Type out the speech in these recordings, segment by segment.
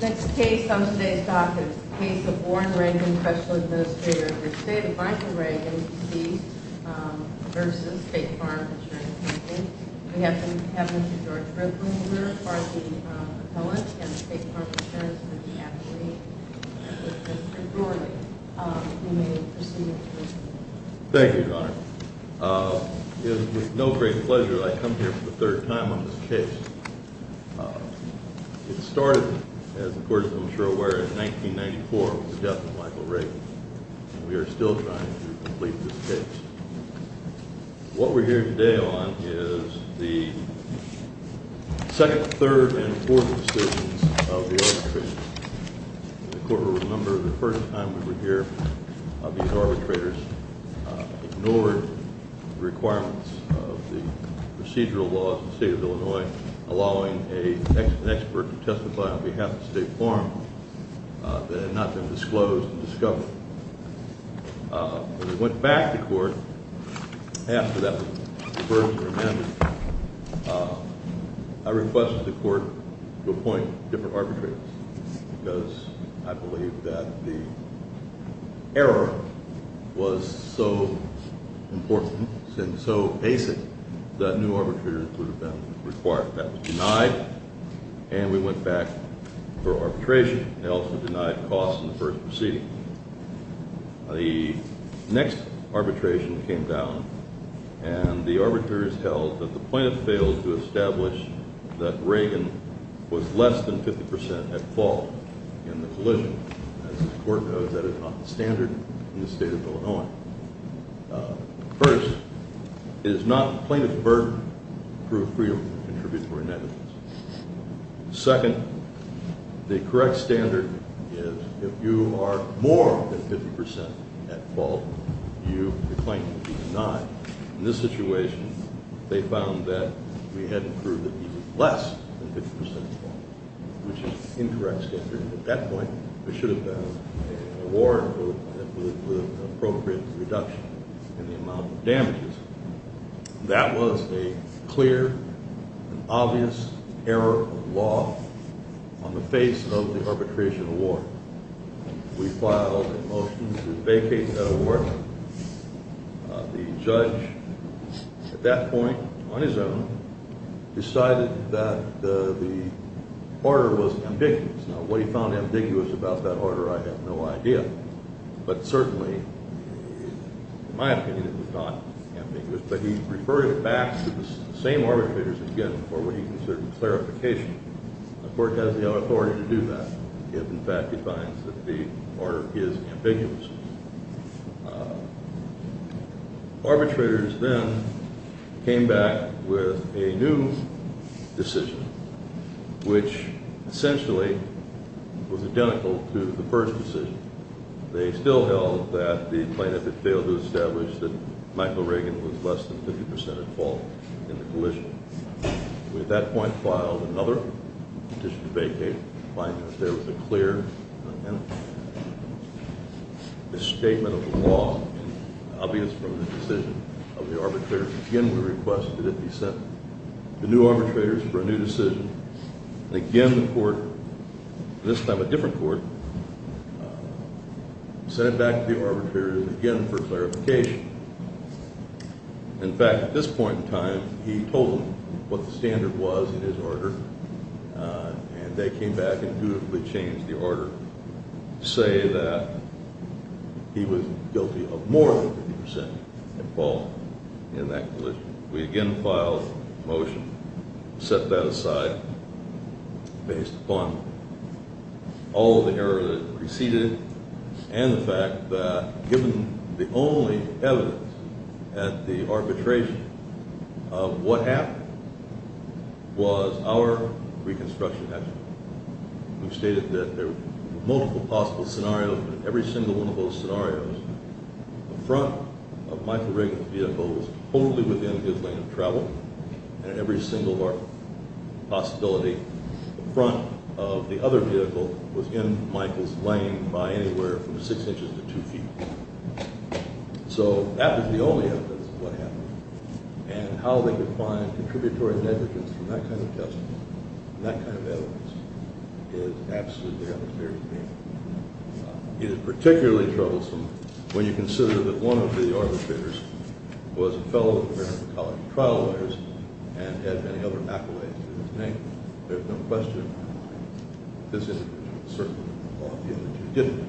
This case on today's docket is the case of Warren Reagan, Special Administrator of the State of Michael Reagan, D.C. v. State Farm Insurance Company. We have the Cabinet of Directors with me here, and the State Farm Insurance Company. Thank you, Your Honor. It is with no great pleasure that I come here for the third time on this case. It started, as the Court is well aware, in 1994 with the death of Michael Reagan, and we are still trying to complete this case. What we're here today on is the second, third, and fourth decisions of the arbitration. The Court will remember the first time we were here, these arbitrators ignored the requirements of the procedural laws of the State of Illinois, allowing an expert to testify on behalf of the State Farm that had not been disclosed and discovered. When we went back to Court after that first amendment, I requested the Court to appoint different arbitrators, because I believe that the error was so important and so basic that new arbitrators would have been required. That was denied, and we went back for arbitration. They also denied costs in the first proceeding. The next arbitration came down, and the arbitrators held that the plaintiff failed to establish that Reagan was less than 50 percent at fault in the collision. As the Court knows, that is not the standard in the State of Illinois. First, it is not the plaintiff's burden to prove free or to contribute for a negligence. Second, the correct standard is if you are more than 50 percent at fault, you are claimed to be denied. In this situation, they found that we hadn't proved that he was less than 50 percent at fault, which is an incorrect standard. At that point, we should have found an award with an appropriate reduction in the amount of damages. That was a clear and obvious error of law on the face of the arbitration award. We filed a motion to vacate that award. The judge, at that point, on his own, decided that the order was ambiguous. Now, what he found ambiguous about that order, I have no idea. But certainly, in my opinion, it was not ambiguous. But he referred it back to the same arbitrators again for what he considered a clarification. The Court has the authority to do that if, in fact, it finds that the order is ambiguous. Arbitrators then came back with a new decision, which essentially was identical to the first decision. They still held that the plaintiff had failed to establish that Michael Reagan was less than 50 percent at fault in the collision. We, at that point, filed another petition to vacate. The plaintiff there was a clear statement of the law, obvious from the decision of the arbitrators. Again, we requested it be sent to new arbitrators for a new decision. Again, the Court, this time a different Court, sent it back to the arbitrators again for clarification. In fact, at this point in time, he told them what the standard was in his order, and they came back and dutifully changed the order to say that he was guilty of more than 50 percent at fault in that collision. We again filed a motion to set that aside based upon all of the error that had preceded it and the fact that, given the only evidence at the arbitration of what happened, was our reconstruction action. We stated that there were multiple possible scenarios, but in every single one of those scenarios, the front of Michael Reagan's vehicle was totally within his lane of travel, and in every single possibility, the front of the other vehicle was in Michael's lane by anywhere from six inches to two feet. So that was the only evidence of what happened, and how they could find contributory negligence from that kind of testimony, that kind of evidence, is absolutely unfair to me. It is particularly troublesome when you consider that one of the arbitrators was a fellow of the American College of Trial Lawyers and had many other accolades in his name. There is no question that this individual was certainly involved in the judicature.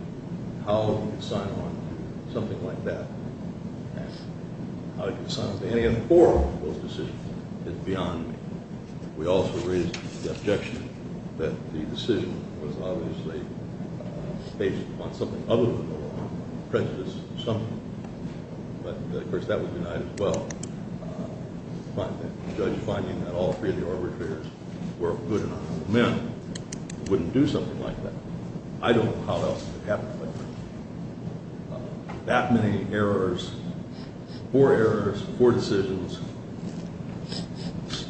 How he could sign on to something like that and how he could sign on to any of the four of those decisions is beyond me. We also raised the objection that the decision was obviously based upon something other than the law, prejudice or something. But, of course, that was denied as well. The judge finding that all three of the arbitrators were good and honorable men wouldn't do something like that. I don't know how else it could happen. That many errors, four errors, four decisions,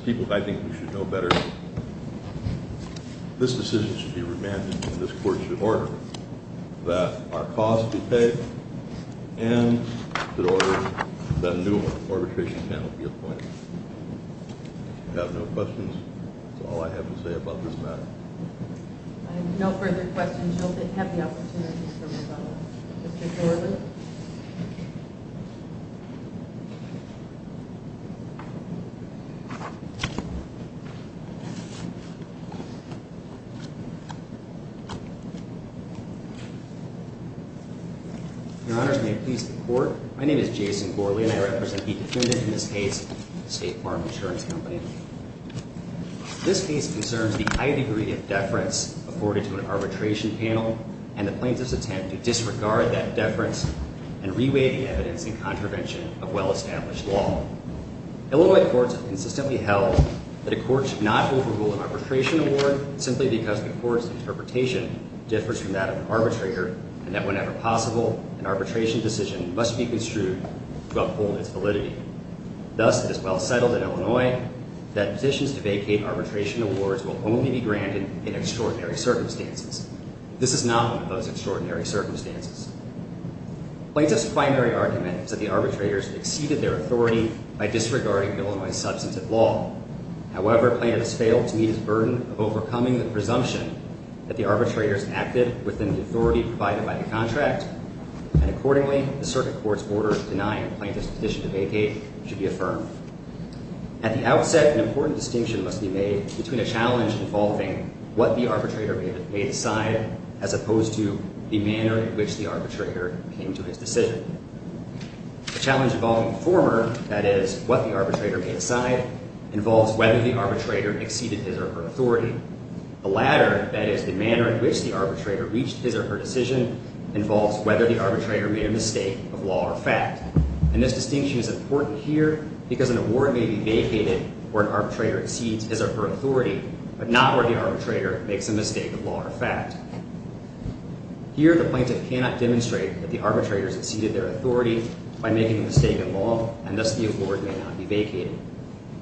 people I think we should know better. This decision should be remanded and this court should order that our costs be paid and should order that a new arbitration panel be appointed. If you have no questions, that's all I have to say about this matter. I have no further questions. I hope that you have the opportunity to come and vote. Mr. Thornton? Your Honors, may it please the Court, my name is Jason Gourley and I represent the defendant in this case, State Farm Insurance Company. This case concerns the high degree of deference afforded to an arbitration panel and the plaintiff's attempt to disregard that deference and re-weigh the evidence in contravention of well-established law. Illinois courts have consistently held that a court should not overrule an arbitration award simply because the court's interpretation differs from that of an arbitrator and that whenever possible, an arbitration decision must be construed to uphold its validity. Thus, it is well settled in Illinois that positions to vacate arbitration awards will only be granted in extraordinary circumstances. This is not one of those extraordinary circumstances. Plaintiff's primary argument is that the arbitrators exceeded their authority by disregarding Illinois's substantive law. However, plaintiff has failed to meet his burden of overcoming the presumption that the arbitrators acted within the authority provided by the contract and accordingly, the circuit court's order denying a plaintiff's petition to vacate should be affirmed. At the outset, an important distinction must be made between a challenge involving what the arbitrator may decide as opposed to the manner in which the arbitrator came to his decision. The challenge involving the former, that is, what the arbitrator may decide, involves whether the arbitrator exceeded his or her authority. The latter, that is, the manner in which the arbitrator reached his or her decision, involves whether the arbitrator made a mistake of law or fact. And this distinction is important here because an award may be vacated where an arbitrator exceeds his or her authority but not where the arbitrator makes a mistake of law or fact. Here, the plaintiff cannot demonstrate that the arbitrators exceeded their authority by making a mistake of law and thus the award may not be vacated.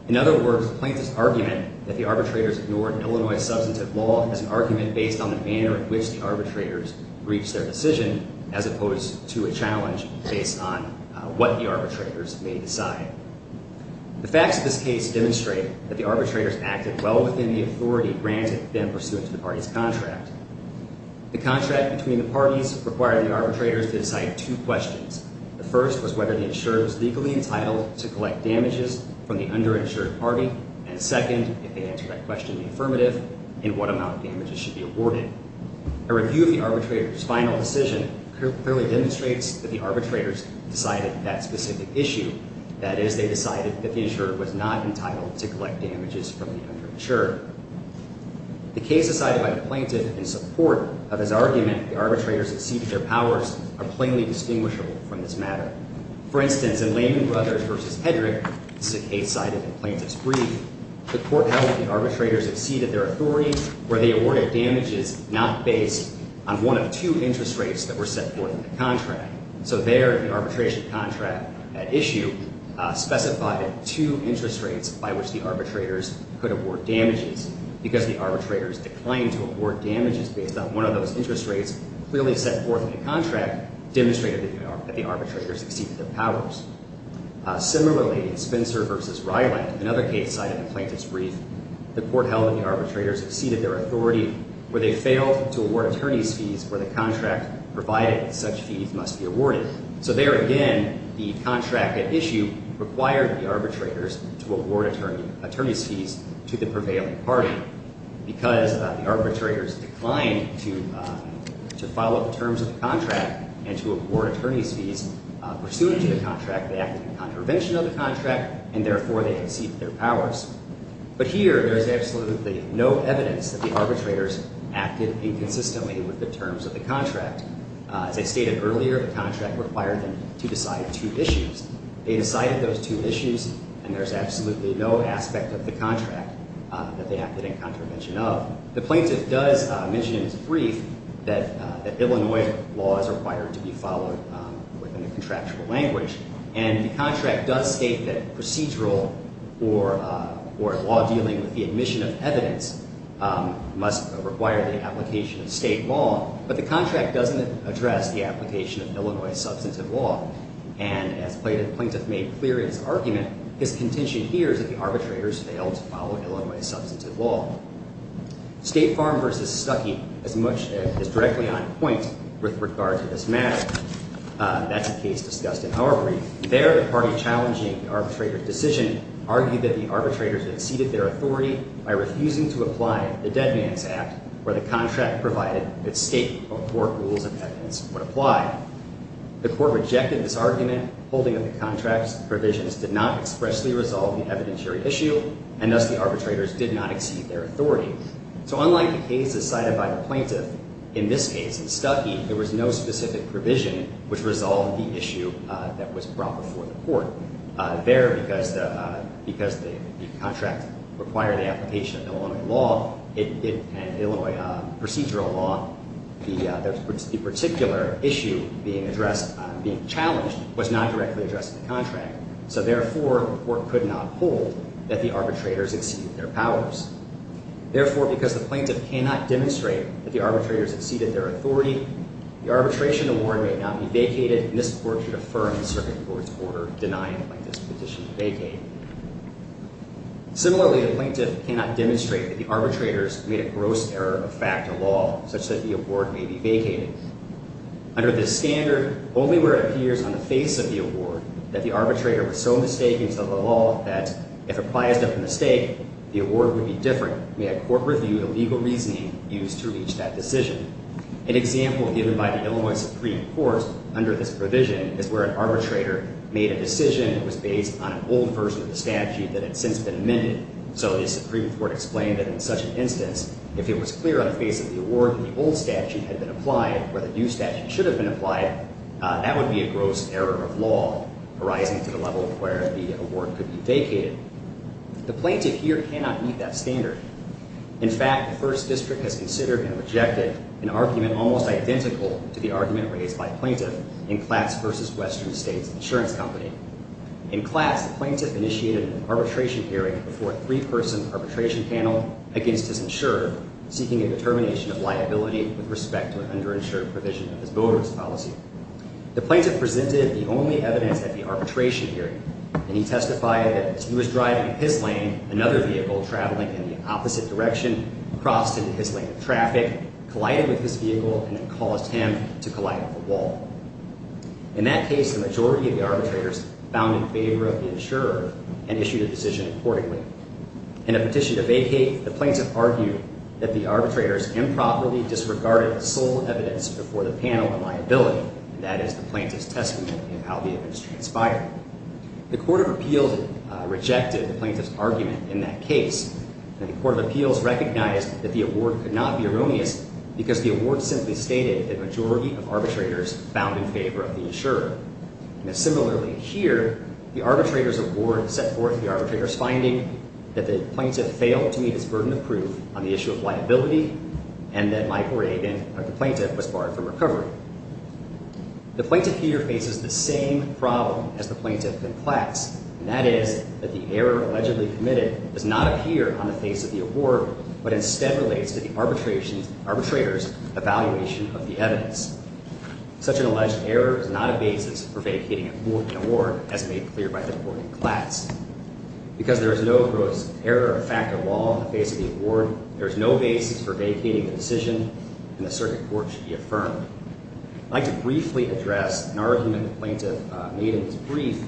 In other words, the plaintiff's argument that the arbitrators ignored Illinois's substantive law is an argument based on the manner in which the arbitrators reached their decision as opposed to a challenge based on what the arbitrators may decide. The facts of this case demonstrate that the arbitrators acted well within the authority granted then pursuant to the party's contract. The contract between the parties required the arbitrators to decide two questions. The first was whether the insurer was legally entitled to collect damages from the underinsured party, and the second, if they answered that question in the affirmative, in what amount of damages should be awarded. A review of the arbitrators' final decision clearly demonstrates that the arbitrators decided that specific issue, that is, they decided that the insurer was not entitled to collect damages from the underinsured. The case decided by the plaintiff in support of his argument that the arbitrators exceeded their powers are plainly distinguishable from this matter. For instance, in Lehman Brothers v. Hedrick, this is a case cited in the plaintiff's brief, the court held that the arbitrators exceeded their authority where they awarded damages not based on one of two interest rates that were set forth in the contract. So there, the arbitration contract at issue specified two interest rates by which the arbitrators could award damages because the arbitrators declined to award damages based on one of those interest rates clearly set forth in the contract demonstrated that the arbitrators exceeded their powers. Similarly, in Spencer v. Ryland, another case cited in the plaintiff's brief, the court held that the arbitrators exceeded their authority where they failed to award attorney's fees where the contract provided such fees must be awarded. So there again, the contract at issue required the arbitrators to award attorney's fees to the prevailing party because the arbitrators declined to follow the terms of the contract and to award attorney's fees pursuant to the contract. They acted in contravention of the contract, and therefore, they exceeded their powers. But here, there is absolutely no evidence that the arbitrators acted inconsistently with the terms of the contract. As I stated earlier, the contract required them to decide two issues. They decided those two issues, and there's absolutely no aspect of the contract that they acted in contravention of. The plaintiff does mention in his brief that Illinois law is required to be followed within a contractual language, and the contract does state that procedural or law dealing with the admission of evidence must require the application of state law, but the contract doesn't address the application of Illinois substantive law. And as the plaintiff made clear in his argument, his contention here is that the arbitrators failed to follow Illinois substantive law. State Farm v. Stuckey is directly on point with regard to this matter. That's a case discussed in our brief. There, the party challenging the arbitrator's decision argued that the arbitrators exceeded their authority by refusing to apply the dead man's act where the contract provided that state or court rules of evidence would apply. The court rejected this argument, holding that the contract's provisions did not expressly resolve the evidentiary issue, and thus, the arbitrators did not exceed their authority. So unlike the cases cited by the plaintiff, in this case, in Stuckey, there was no specific provision which resolved the issue that was brought before the court. There, because the contract required the application of Illinois procedural law, the particular issue being challenged was not directly addressed in the contract. So therefore, the court could not hold that the arbitrators exceeded their powers. Therefore, because the plaintiff cannot demonstrate that the arbitrators exceeded their authority, the arbitration award may not be vacated, and this court should affirm the circuit court's order denying the plaintiff's petition to vacate. Similarly, the plaintiff cannot demonstrate that the arbitrators made a gross error of fact to law, such that the award may be vacated. Under this standard, only where it appears on the face of the award that the arbitrator was so mistaken to the law that if it applies to a mistake, the award would be different, may a court review the legal reasoning used to reach that decision. An example given by the Illinois Supreme Court under this provision is where an arbitrator made a decision that was based on an old version of the statute that had since been amended. So the Supreme Court explained that in such an instance, if it was clear on the face of the award that the old statute had been applied where the new statute should have been applied, that would be a gross error of law arising to the level where the award could be vacated. The plaintiff here cannot meet that standard. In fact, the First District has considered and rejected an argument almost identical to the argument raised by a plaintiff in Klatz v. Western States Insurance Company. In Klatz, the plaintiff initiated an arbitration hearing before a three-person arbitration panel against his insurer, seeking a determination of liability with respect to an underinsured provision of his voter's policy. The plaintiff presented the only evidence at the arbitration hearing, and he testified that as he was driving his lane, another vehicle traveling in the opposite direction crossed into his lane of traffic, collided with his vehicle, and it caused him to collide with the wall. In that case, the majority of the arbitrators found in favor of the insurer and issued a decision accordingly. In a petition to vacate, the plaintiff argued that the arbitrators improperly disregarded the sole evidence before the panel of liability, and that is the plaintiff's testimony in how the evidence transpired. The Court of Appeals rejected the plaintiff's argument in that case, and the Court of Appeals recognized that the award could not be erroneous because the award simply stated the majority of arbitrators found in favor of the insurer. And similarly here, the arbitrator's award set forth the arbitrator's finding that the plaintiff failed to meet his burden of proof on the issue of liability, and that Michael Rabin, the plaintiff, was barred from recovery. The plaintiff here faces the same problem as the plaintiff in class, and that is that the error allegedly committed does not appear on the face of the award, but instead relates to the arbitrator's evaluation of the evidence. Such an alleged error is not a basis for vacating an award, as made clear by the court in class. Because there is no gross error or fact of law on the face of the award, there is no basis for vacating the decision, and the circuit court should be affirmed. I'd like to briefly address an argument the plaintiff made in his brief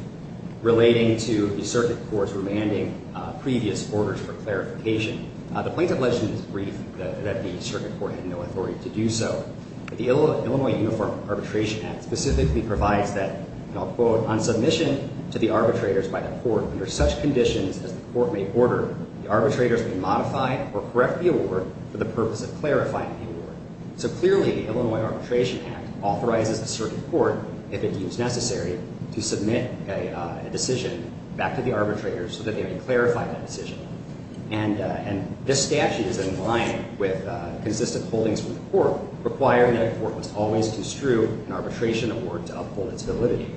relating to the circuit court's remanding previous orders for clarification. The plaintiff alleged in his brief that the circuit court had no authority to do so. The Illinois Uniform Arbitration Act specifically provides that, and I'll quote, on submission to the arbitrators by the court under such conditions as the court may order, the arbitrators may modify or correct the award for the purpose of clarifying the award. So clearly the Illinois Arbitration Act authorizes the circuit court, if it deems necessary, to submit a decision back to the arbitrators so that they may clarify that decision. And this statute is in line with consistent holdings from the court requiring that the court must always construe an arbitration award to uphold its validity.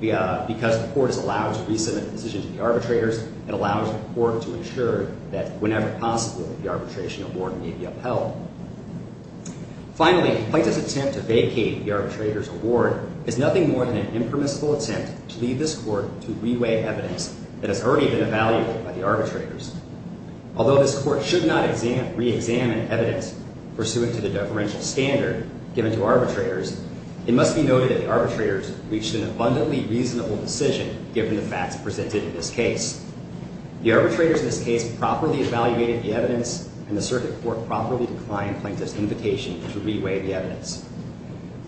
Because the court is allowed to resubmit a decision to the arbitrators, it allows the court to ensure that whenever possible the arbitration award may be upheld. Finally, a plaintiff's attempt to vacate the arbitrator's award is nothing more than an impermissible attempt to lead this court to reweigh evidence that has already been evaluated by the arbitrators. Although this court should not reexamine evidence pursuant to the deferential standard given to arbitrators, it must be noted that the arbitrators reached an abundantly reasonable decision given the facts presented in this case. The arbitrators in this case properly evaluated the evidence, and the circuit court properly declined plaintiff's invitation to reweigh the evidence.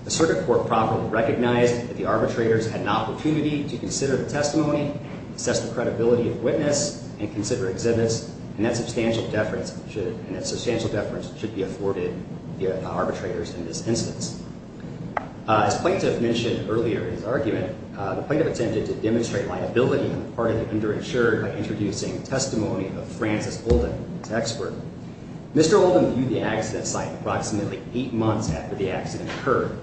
The circuit court properly recognized that the arbitrators had an opportunity to consider the testimony, assess the credibility of witness, and consider exhibits, and that substantial deference should be afforded the arbitrators in this instance. As plaintiff mentioned earlier in his argument, the plaintiff attempted to demonstrate liability on the part of the underinsured by introducing testimony of Francis Oldham, his expert. Mr. Oldham viewed the accident site approximately eight months after the accident occurred.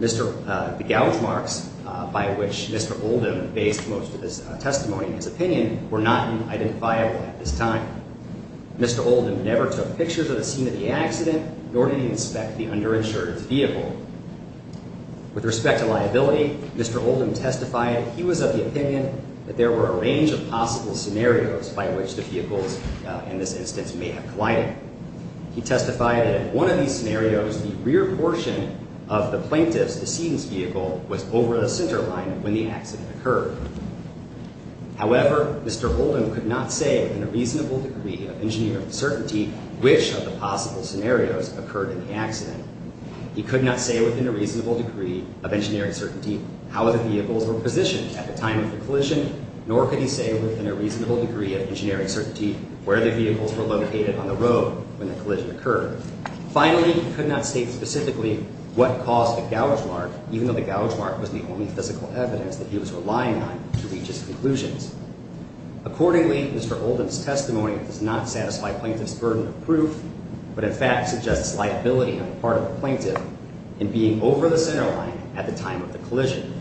The gouge marks by which Mr. Oldham based most of his testimony and his opinion were not identifiable at this time. Mr. Oldham never took pictures of the scene of the accident, nor did he inspect the underinsured's vehicle. With respect to liability, Mr. Oldham testified he was of the opinion that there were a range of possible scenarios by which the vehicles, in this instance, may have collided. He testified that in one of these scenarios, the rear portion of the plaintiff's decedent's vehicle was over the center line when the accident occurred. However, Mr. Oldham could not say in a reasonable degree of engineering certainty which of the possible scenarios occurred in the accident. He could not say within a reasonable degree of engineering certainty how the vehicles were positioned at the time of the collision, nor could he say within a reasonable degree of engineering certainty where the vehicles were located on the road when the collision occurred. Finally, he could not state specifically what caused the gouge mark, even though the gouge mark was the only physical evidence that he was relying on to reach his conclusions. Accordingly, Mr. Oldham's testimony does not satisfy plaintiff's burden of proof, but in fact suggests liability on the part of the plaintiff in being over the center line at the time of the collision.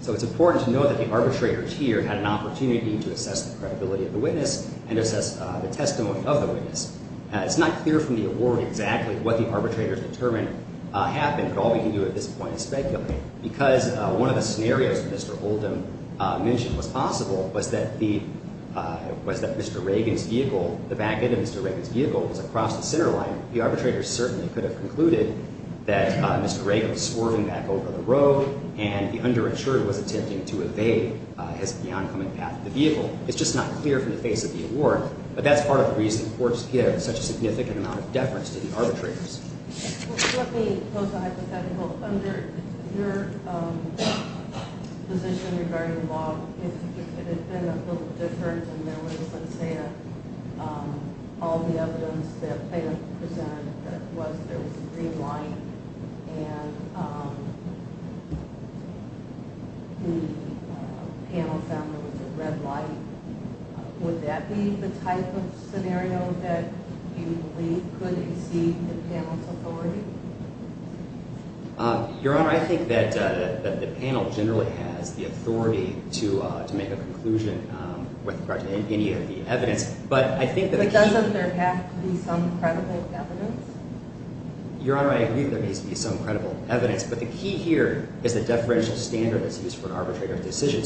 So it's important to note that the arbitrators here had an opportunity to assess the credibility of the witness and assess the testimony of the witness. It's not clear from the award exactly what the arbitrators determined happened, but all we can do at this point is speculate, because one of the scenarios Mr. Oldham mentioned was possible was that Mr. Reagan's vehicle, the back end of Mr. Reagan's vehicle, was across the center line. The arbitrators certainly could have concluded that Mr. Reagan was swerving back over the road and the underinsurer was attempting to evade the oncoming path of the vehicle. It's just not clear from the face of the award, but that's part of the reason courts give such a significant amount of deference to the arbitrators. Let me go to hypothetical. Under your position regarding the law, it had been a little different and there was, let's say, all the evidence that the plaintiff presented that there was a green light and the panel found there was a red light. Would that be the type of scenario that you believe could exceed the panel's authority? Your Honor, I think that the panel generally has the authority to make a conclusion with regard to any of the evidence, but I think that the key... But doesn't there have to be some credible evidence? Your Honor, I agree that there needs to be some credible evidence, but the key here is the deferential standard that's used for an arbitrator's decision.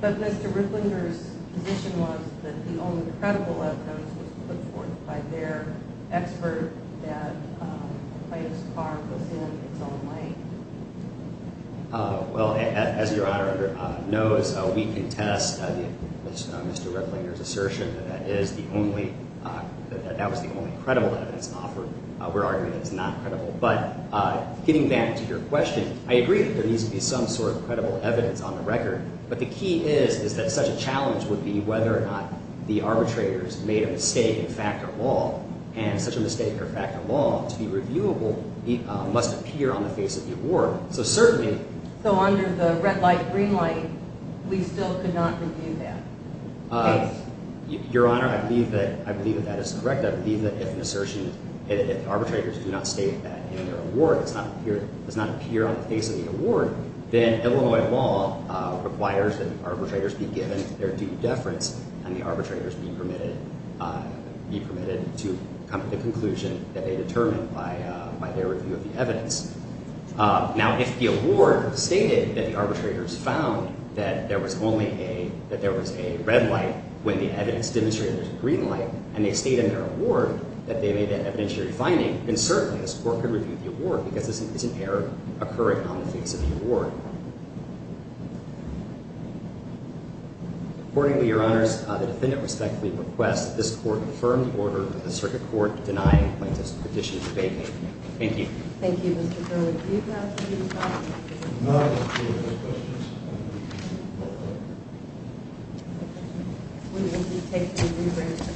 But Mr. Ripplinger's position was that the only credible evidence was put forth by their expert that the plaintiff's car was in its own lane. Well, as Your Honor knows, we contest Mr. Ripplinger's assertion that that was the only credible evidence offered. We're arguing that it's not credible. But getting back to your question, I agree that there needs to be some sort of credible evidence on the record, but the key is that such a challenge would be whether or not the arbitrators made a mistake in fact or law, and such a mistake or fact or law to be reviewable must appear on the face of the award. So certainly... So under the red light, green light, we still could not review that case? Your Honor, I believe that that is correct. I believe that if an assertion... If the arbitrators do not state that in their award, it does not appear on the face of the award, then Illinois law requires that arbitrators be given their due deference and the arbitrators be permitted to come to the conclusion that they determined by their review of the evidence. Now, if the award stated that the arbitrators found that there was only a... that there was a red light when the evidence demonstrated there's a green light, and they state in their award that they made an evidentiary finding, then certainly the court could review the award because it's an error occurring on the face of the award. Accordingly, Your Honors, the defendant respectfully requests this court affirm the order of the circuit court denying plaintiff's petition for bail. Thank you. Thank you, Mr. Berwick. Do you have anything to add? No, I don't. Do you have any questions? No. Okay. We will just take the rebrand.